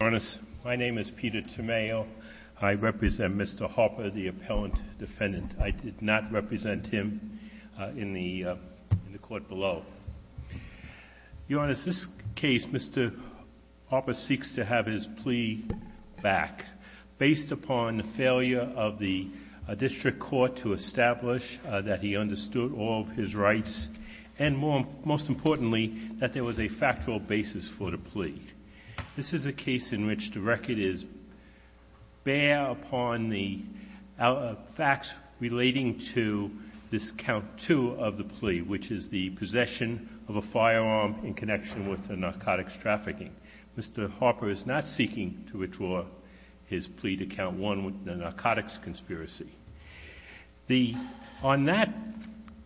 My name is Peter Tomeo. I represent Mr. Harper, the appellant defendant. I did not represent him in the court below. Your Honor, in this case, Mr. Harper seeks to have his plea back based upon the failure of the district court to establish that he understood all of his rights and, most importantly, that there was a factual basis for the plea. This is a case in which the record is bare upon the facts relating to this count two of the plea, which is the possession of a firearm in connection with the narcotics trafficking. Mr. Harper is not seeking to withdraw his plea to count one with the narcotics conspiracy. The — on that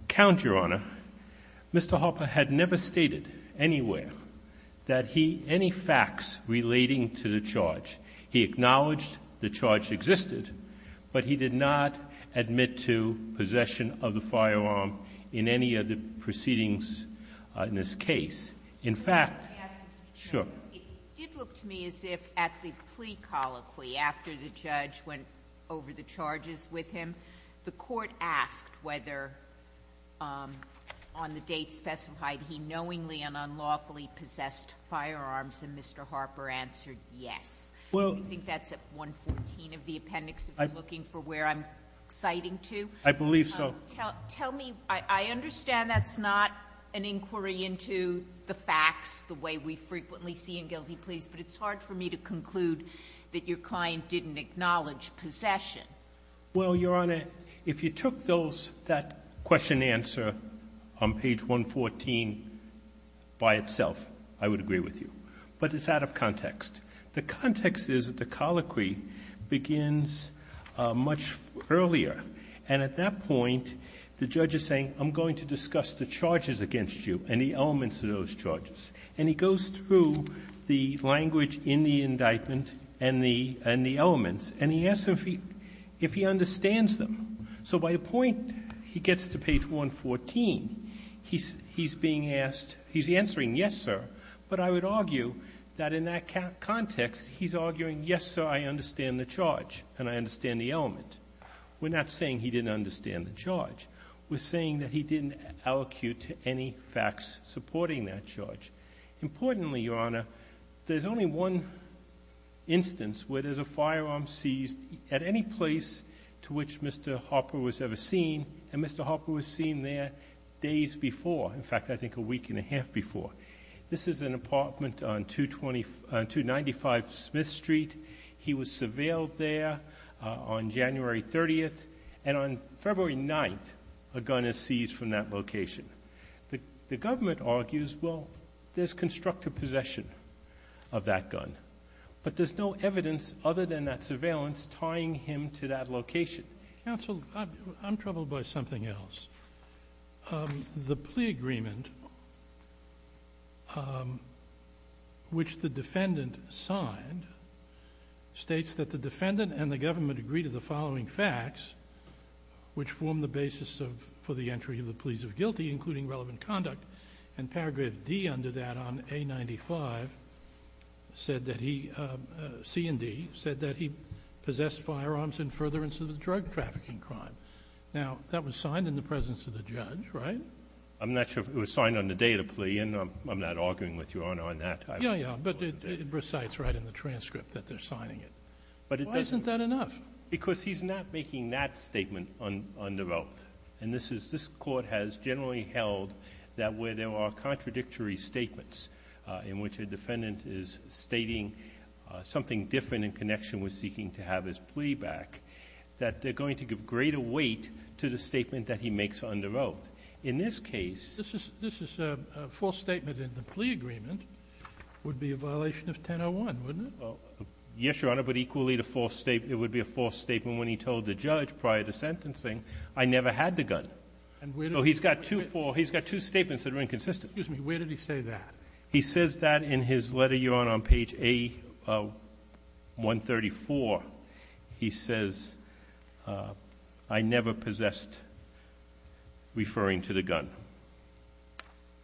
count, Your Honor, Mr. Harper had never stated anywhere that he — any facts relating to the charge. He acknowledged the charge existed, but he did not admit to possession of the firearm in any of the proceedings in this case. In fact — Let me ask you, Mr. Tomeo. Sure. It did look to me as if at the plea colloquy, after the judge went over the charges with him, the court asked whether, on the date specified, he knowingly and unlawfully possessed firearms, and Mr. Harper answered yes. Well — I think that's at 114 of the appendix, if you're looking for where I'm citing to. I believe so. Tell me — I understand that's not an inquiry into the facts the way we frequently see in guilty pleas, but it's hard for me to conclude that your client didn't acknowledge possession. Well, Your Honor, if you took those — that question-answer on page 114 by itself, I would agree with you. But it's out of context. The context is that the colloquy begins much earlier, and at that point, the judge is saying, I'm going to discuss the charges against you and the elements of those charges. And he goes through the language in the indictment and the — and the elements, and he asks if he — if he understands them. So by the point he gets to page 114, he's — he's being asked — he's answering yes, sir, but I would argue that in that context, he's arguing, yes, sir, I understand the charge and I understand the element. We're not saying he didn't understand the charge. We're saying that he didn't allocute to any facts supporting that charge. Importantly, Your Honor, there's only one instance where there's a firearm seized at any place to which Mr. Harper was ever seen, and Mr. Harper was seen there days before. In fact, I think a week and a half before. This is an apartment on 295 Smith Street. He was surveilled there on January 30th, and on February 9th, a gun is seized from that location. The government argues, well, there's constructive possession of that gun. But there's no evidence other than that surveillance tying him to that location. Counsel, I'm troubled by something else. The plea agreement, which the defendant signed, states that the defendant and the government agree to the following facts, which form the basis of — for the entry of the pleas of guilty, including relevant conduct. And paragraph D under that on A95 said that he — C&D said that he possessed firearms in furtherance of the drug trafficking crime. Now, that was signed in the presence of the judge, right? I'm not sure if it was signed on the day of the plea, and I'm not arguing with you, Your Honor, on that. Yeah, yeah. But it recites right in the transcript that they're signing it. But it doesn't — Why isn't that enough? Because he's not making that statement under oath. And this is — this Court has generally held that where there are contradictory statements in which a defendant is stating something different in connection with seeking to have his plea back, that they're going to give greater weight to the statement that he makes under oath. In this case — This is — this is a false statement, and the plea agreement would be a violation of 1001, wouldn't it? Yes, Your Honor, but equally the false — it would be a false statement when he told the judge prior to sentencing, I never had the gun. And where did — So he's got two false — he's got two statements that are inconsistent. Excuse me. Where did he say that? He says that in his letter, Your Honor, on page A134. He says, I never possessed, referring to the gun.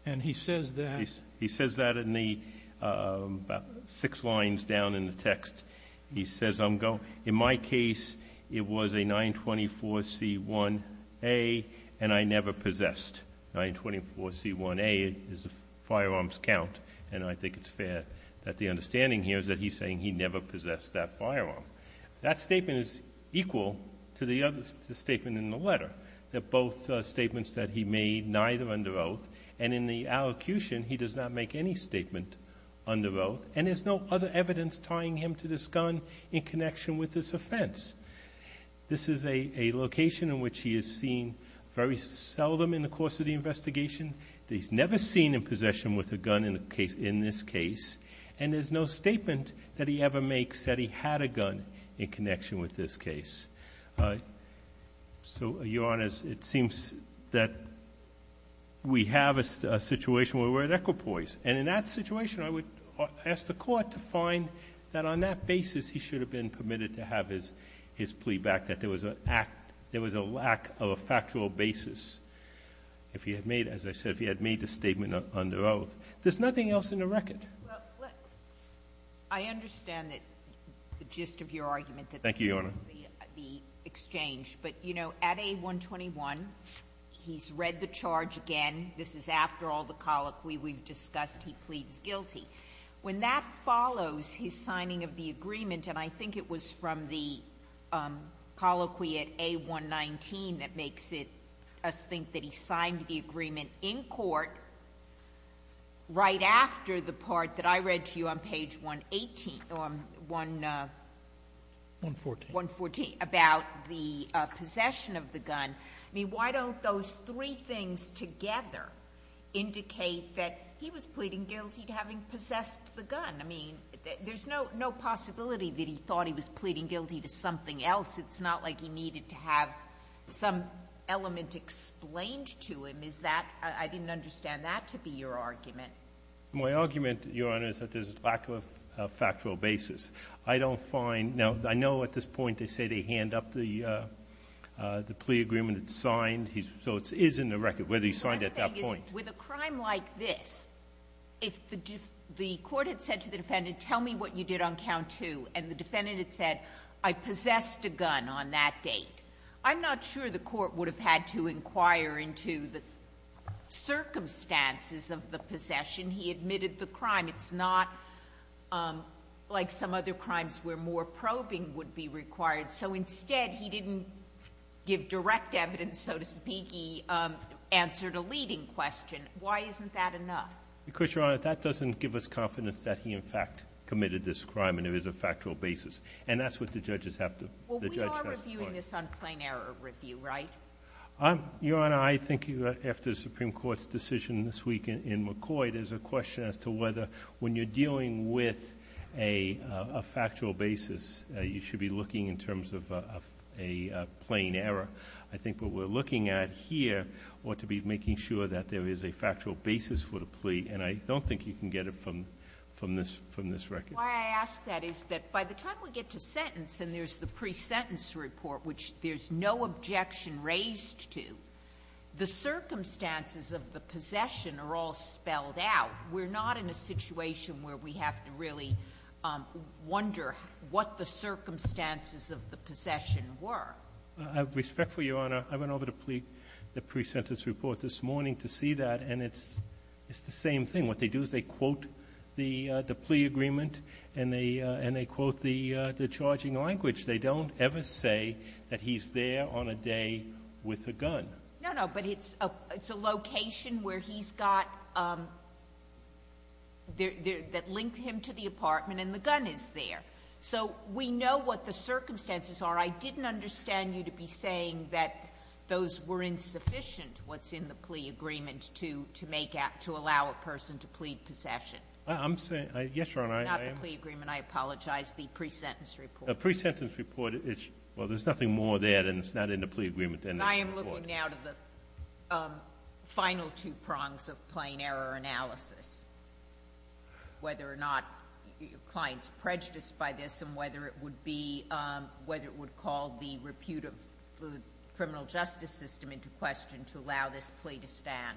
And he says that — He says that in the — about six lines down in the text. He says, I'm going — in my case, it was a 924C1A, and I never possessed. 924C1A is a firearms count, and I think it's fair that the understanding here is that he's saying he never possessed that firearm. That statement is equal to the other statement in the letter. They're both statements that he made, neither under oath. And in the allocution, he does not make any statement under oath. And there's no other evidence tying him to this gun in connection with this offense. This is a location in which he is seen very seldom in the course of the investigation. He's never seen in possession with a gun in this case. And there's no statement that he ever makes that he had a gun in connection with this case. So, Your Honor, it seems that we have a situation where we're at equipoise. And in that situation, I would ask the Court to find that on that basis he should have been permitted to have his — his plea back, that there was a lack of a factual basis if he had made — as I said, if he had made a statement under oath. There's nothing else in the record. Sotomayor, I understand that — the gist of your argument that — Thank you, Your Honor. — the exchange. But, you know, at A121, he's read the charge again. This is after all the colloquy we've discussed. He pleads guilty. When that follows his signing of the agreement, and I think it was from the colloquy at A119 that makes it — us think that he signed the agreement in court right after the part that I read to you on page 118 — 114 — about the possession of the gun. I mean, why don't those three things together indicate that he was pleading guilty to having possessed the gun? I mean, there's no possibility that he thought he was pleading guilty to something else. It's not like he needed to have some element explained to him. Is that — I didn't understand that to be your argument. My argument, Your Honor, is that there's a lack of a factual basis. I don't find — now, I know at this point they say they hand up the plea agreement that's signed. So it is in the record whether he signed it at that point. What I'm saying is, with a crime like this, if the court had said to the defendant, tell me what you did on count two, and the defendant had said, I possessed a gun on that date, I'm not sure the court would have had to inquire into the circumstances of the possession. He admitted the crime. It's not like some other crimes where more probing would be required. So instead, he didn't give direct evidence, so to speak. He answered a leading question. Why isn't that enough? Because, Your Honor, that doesn't give us confidence that he, in fact, committed this crime, and there is a factual basis. And that's what the judges have to — the judge has to point out. Well, we are reviewing this on plain error review, right? Your Honor, I think after the Supreme Court's decision this week in McCoy, there's a question as to whether when you're dealing with a factual basis, you should be looking in terms of a plain error. I think what we're looking at here ought to be making sure that there is a factual basis for the plea, and I don't think you can get it from this record. Why I ask that is that by the time we get to sentence and there's the pre-sentence report, which there's no objection raised to, the circumstances of the possession are all spelled out. We're not in a situation where we have to really wonder what the circumstances of the possession were. Respectfully, Your Honor, I went over the plea, the pre-sentence report this morning to see that, and it's the same thing. What they do is they quote the plea agreement and they quote the charging language. They don't ever say that he's there on a day with a gun. No, no, but it's a location where he's got, that linked him to the apartment and the gun is there. So we know what the circumstances are. I didn't understand you to be saying that those were insufficient, what's in the plea agreement, to make out, to allow a person to plead possession. I'm saying, yes, Your Honor, I am. Not the plea agreement, I apologize, the pre-sentence report. The pre-sentence report, well, there's nothing more there than it's not in the plea agreement than the plea report. I am looking now to the final two prongs of plain error analysis, whether or not your client's prejudiced by this and whether it would be, whether it would call the repute of the criminal justice system into question to allow this plea to stand.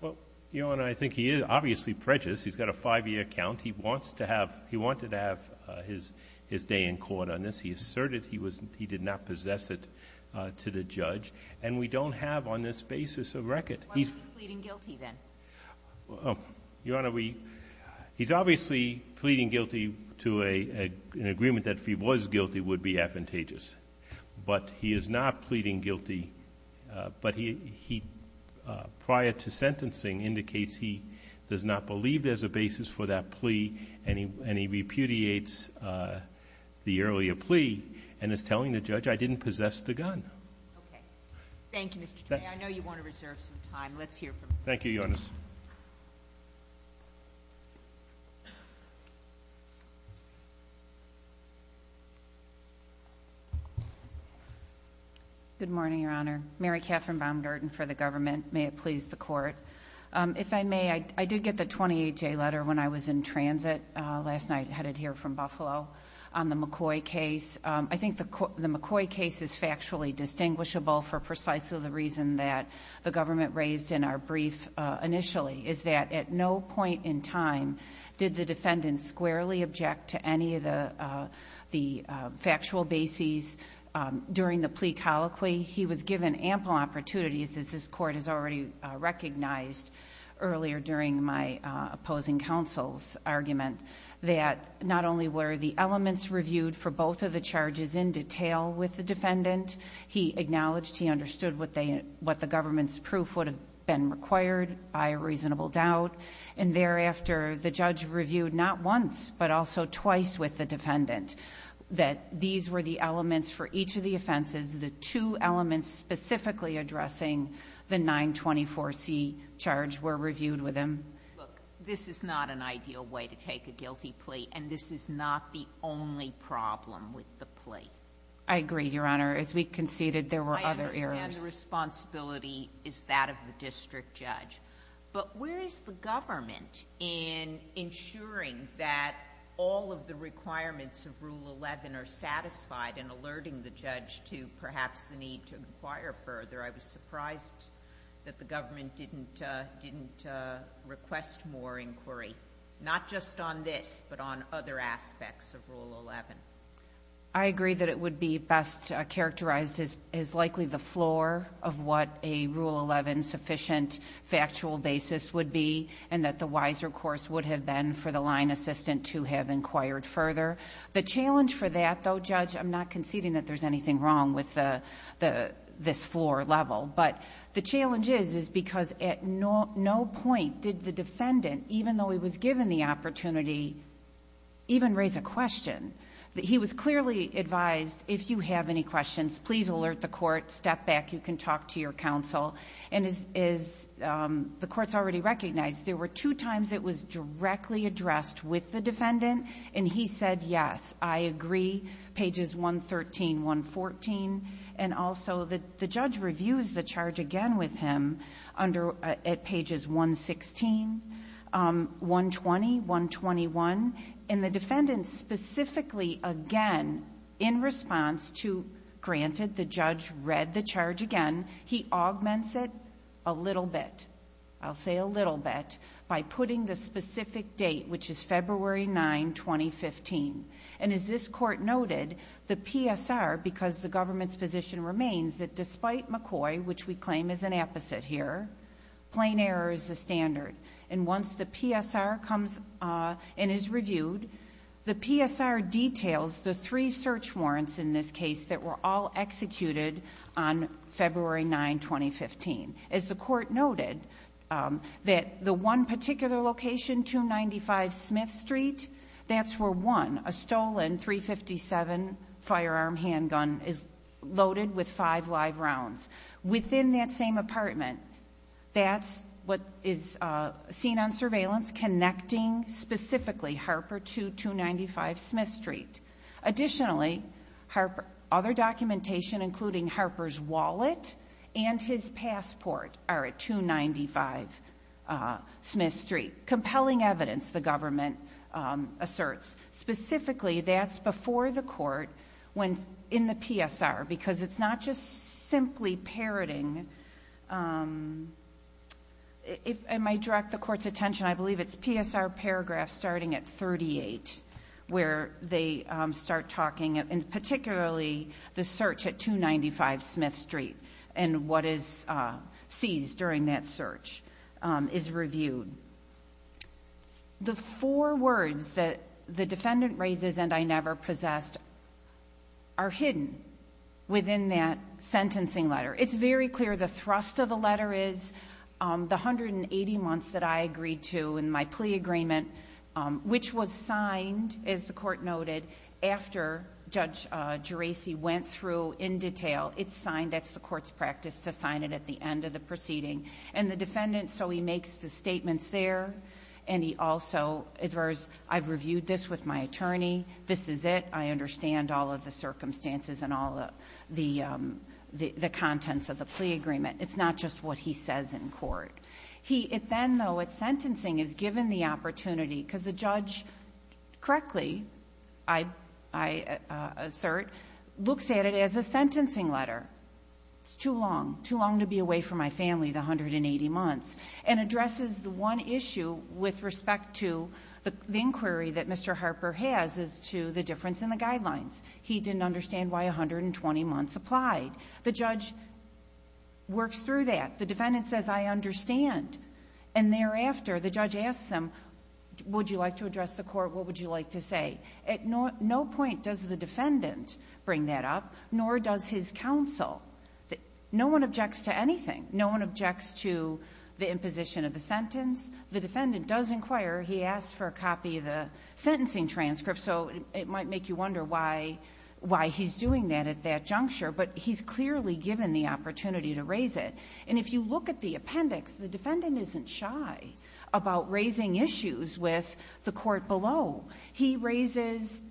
Well, Your Honor, I think he is obviously prejudiced. He's got a five-year count. He wants to have, he wanted to have his day in court on this. He asserted he was, he did not possess it to the judge. And we don't have on this basis a record. Why was he pleading guilty then? Your Honor, we, he's obviously pleading guilty to an agreement that if he was guilty would be advantageous. But he is not pleading guilty, but he, prior to sentencing, indicates he does not possess the gun. Okay. Thank you, Mr. Trey. I know you want to reserve some time. Let's hear from you. Thank you, Your Honor. Good morning, Your Honor. Mary Catherine Baumgarten for the government. May it please the Court. If I may, I did get the 28-J letter when I was in transit last night, headed here from Buffalo, on the McCoy case. I think the McCoy case is factually distinguishable for precisely the reason that the government raised in our brief initially, is that at no point in time did the defendant squarely object to any of the factual bases during the plea colloquy. He was given ample opportunities, as this Court has already recognized earlier during my opposing counsel's argument, that not only were the elements reviewed for both of the charges in detail with the defendant, he acknowledged he understood what the government's proof would have been required by a reasonable doubt. And thereafter, the judge reviewed not once, but also twice with the defendant that these were the elements for each of the offenses, the two elements specifically addressing the 924C charge were reviewed with him. Look, this is not an ideal way to take a guilty plea, and this is not the only problem with the plea. I agree, Your Honor. As we conceded, there were other errors. I understand the responsibility is that of the district judge, but where is the government in ensuring that all of the requirements of Rule 11 are satisfied and alerting the judge to perhaps the need to inquire further? I was surprised that the government didn't request more inquiry, not just on this, but on other aspects of Rule 11. I agree that it would be best characterized as likely the floor of what a Rule 11 sufficient factual basis would be, and that the wiser course would have been for the line assistant to have inquired further. The challenge for that, though, Judge, I'm not conceding that there's anything wrong with this floor level, but the challenge is, is because at no point did the defendant, even though he was given the opportunity, even raise a question. He was clearly advised, if you have any questions, please alert the court, step back, you can talk to your counsel. And as the courts already recognized, there were two times it was directly addressed with the defendant, and he said, yes, I agree, pages 113, 114. And also the judge reviews the charge again with him at pages 116, 120, 121. And the defendant specifically, again, in response to, granted the judge read the charge again, he augments it a little bit, I'll say a little bit, by putting the specific date, which is February 9, 2015. And as this court noted, the PSR, because the government's position remains that despite McCoy, which we claim is an apposite here, plain error is the standard. And once the PSR comes and is reviewed, the PSR details the three search warrants in this case that were all executed on February 9, 2015. As the court noted, that the one particular location, 295 Smith Street, that's where one, a stolen .357 firearm handgun is loaded with five live rounds. Within that same apartment, that's what is seen on surveillance connecting specifically Harper to 295 Smith Street. Additionally, other documentation, including Harper's wallet and his passport, are at 295 Smith Street. Compelling evidence, the government asserts. Specifically, that's before the court in the PSR, because it's not just simply parroting. If I might direct the court's attention, I believe it's PSR paragraph starting at 38, where they start talking, and particularly the search at 295 Smith Street and what is seized during that search is reviewed. The four words that the defendant raises, and I never possessed, are hidden within that sentencing letter. It's very clear the thrust of the letter is the 180 months that I agreed to in my sentence, which was signed, as the court noted, after Judge Geraci went through in detail. It's signed. That's the court's practice to sign it at the end of the proceeding. And the defendant, so he makes the statements there, and he also adheres, I've reviewed this with my attorney. This is it. I understand all of the circumstances and all the contents of the plea agreement. It's not just what he says in court. He then, though, at sentencing, is given the opportunity, because the judge, correctly, I assert, looks at it as a sentencing letter. It's too long, too long to be away from my family, the 180 months, and addresses the one issue with respect to the inquiry that Mr. Harper has as to the difference in the guidelines. He didn't understand why 120 months applied. The judge works through that. The defendant says, I understand. And thereafter, the judge asks him, would you like to address the court? What would you like to say? At no point does the defendant bring that up, nor does his counsel. No one objects to anything. No one objects to the imposition of the sentence. The defendant does inquire. He asks for a copy of the sentencing transcript, so it might make you wonder why he's doing that at that juncture. But he's clearly given the opportunity to raise it. And if you look at the appendix, the defendant isn't shy about raising issues with the court below. He raises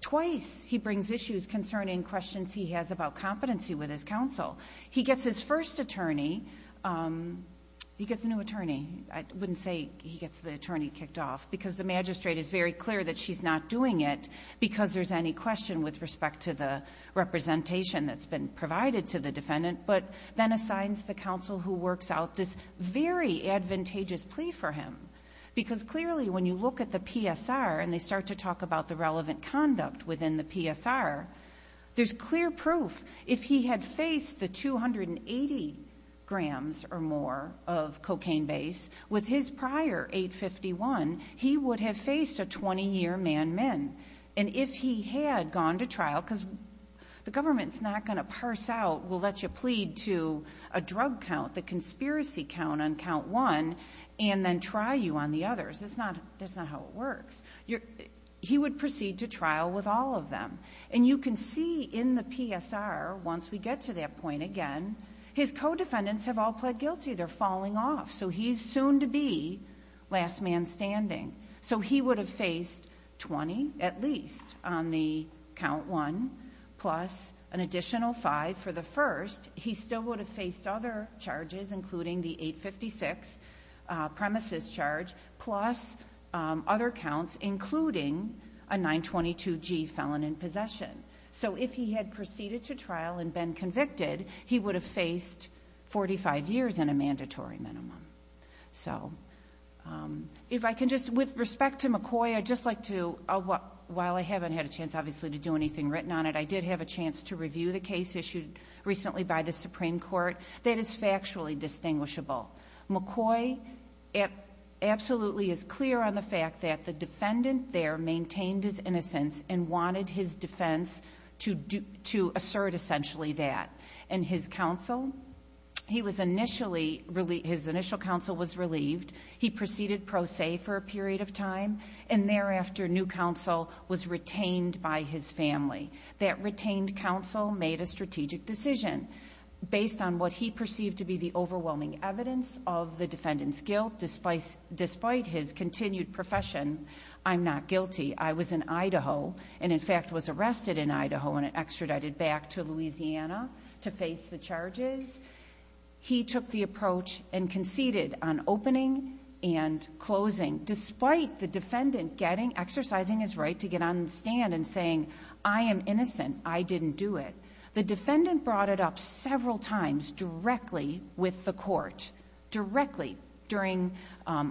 twice. He brings issues concerning questions he has about competency with his counsel. He gets his first attorney. He gets a new attorney. I wouldn't say he gets the attorney kicked off, because the magistrate is very clear that she's not doing it because there's any question with respect to the counsel who works out this very advantageous plea for him. Because clearly, when you look at the PSR and they start to talk about the relevant conduct within the PSR, there's clear proof. If he had faced the 280 grams or more of cocaine base with his prior 851, he would have faced a 20-year man-man. And if he had gone to trial, because the government's not going to parse out, will let you plead to a drug count, the conspiracy count on count one, and then try you on the others. That's not how it works. He would proceed to trial with all of them. And you can see in the PSR, once we get to that point again, his co-defendants have all pled guilty. They're falling off. So he's soon to be last man standing. So he would have faced 20, at least, on the count one, plus an additional five for the first. He still would have faced other charges, including the 856 premises charge, plus other counts, including a 922G felon in possession. So if he had proceeded to trial and been convicted, he would have faced 45 years in a mandatory minimum. So if I can just, with respect to McCoy, I'd just like to, while I haven't had a chance, obviously, to do anything written on it, I did have a chance to review the case issued recently by the Supreme Court. That is factually distinguishable. McCoy absolutely is clear on the fact that the defendant there maintained his innocence and wanted his defense to assert essentially that. And his counsel, he was initially, his initial counsel was relieved. He proceeded pro se for a period of time, and thereafter new counsel was retained by his family. That retained counsel made a strategic decision. Based on what he perceived to be the overwhelming evidence of the defendant's guilt, despite his continued profession, I'm not guilty. I was in Idaho and, in fact, was arrested in Idaho and extradited back to Louisiana to face the charges. He took the approach and conceded on opening and closing, despite the defendant getting, exercising his right to get on the stand and saying, I am innocent. I didn't do it. The defendant brought it up several times directly with the court, directly during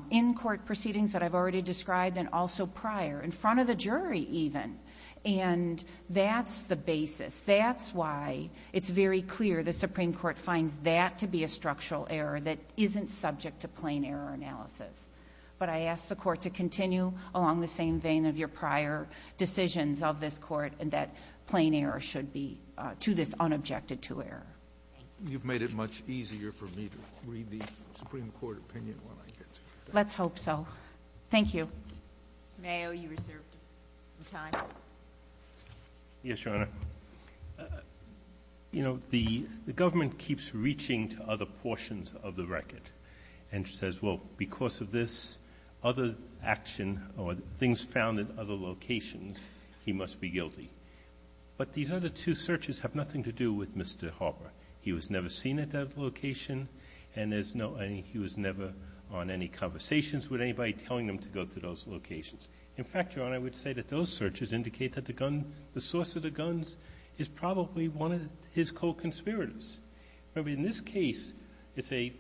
in-court proceedings that I've already described and also prior, in front of the jury even. And that's the basis. That's why it's very clear the Supreme Court finds that to be a structural error that isn't subject to plain error analysis. But I ask the Court to continue along the same vein of your prior decisions of this Court and that plain error should be to this unobjected-to error. Thank you. You've made it much easier for me to read the Supreme Court opinion when I get to it. Let's hope so. Thank you. Mayor, you reserved some time. Yes, Your Honor. You know, the government keeps reaching to other portions of the record and says, well, because of this other action or things found in other locations, he must be guilty. But these other two searches have nothing to do with Mr. Harper. He was never seen at that location and he was never on any conversations with anybody telling him to go to those locations. In fact, Your Honor, I would say that those searches indicate that the gun, the source of the guns is probably one of his co-conspirators. Remember, in this case, it's a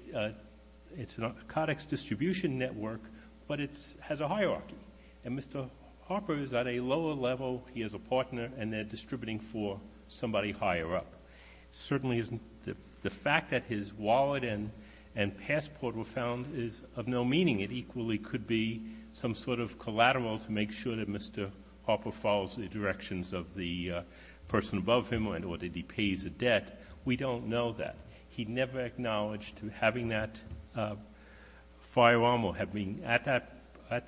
codex distribution network, but it has a hierarchy. And Mr. Harper is at a lower level. He has a partner and they're distributing for somebody higher up. Certainly, the fact that his wallet and passport were found is of no meaning. It equally could be some sort of collateral to make sure that Mr. Harper follows the directions of the person above him in order that he pays the debt. We don't know that. He never acknowledged having that firearm or being at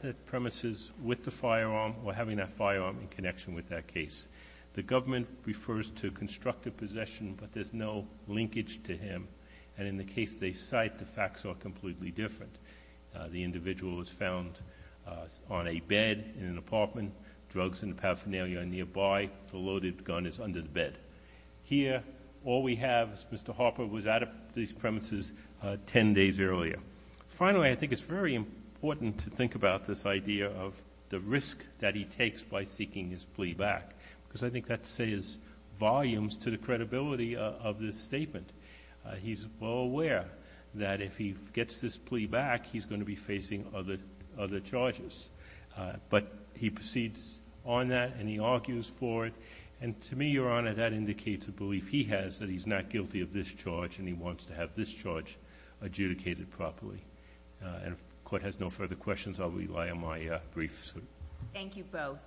the premises with the firearm or having that firearm in connection with that case. The government refers to constructive possession, but there's no linkage to him. And in the case they cite, the facts are completely different. The individual is found on a bed in an apartment. Drugs and paraphernalia are nearby. The loaded gun is under the bed. Here, all we have is Mr. Harper was at these premises 10 days earlier. Finally, I think it's very important to think about this idea of the risk that he takes by seeking his plea back, because I think that says volumes to the credibility of this statement. He's well aware that if he gets this plea back, he's going to be facing other charges. But he proceeds on that, and he argues for it. And to me, Your Honor, that indicates a belief he has that he's not guilty of this charge and he wants to have this charge adjudicated properly. And if the Court has no further questions, I'll rely on my briefs. Thank you both.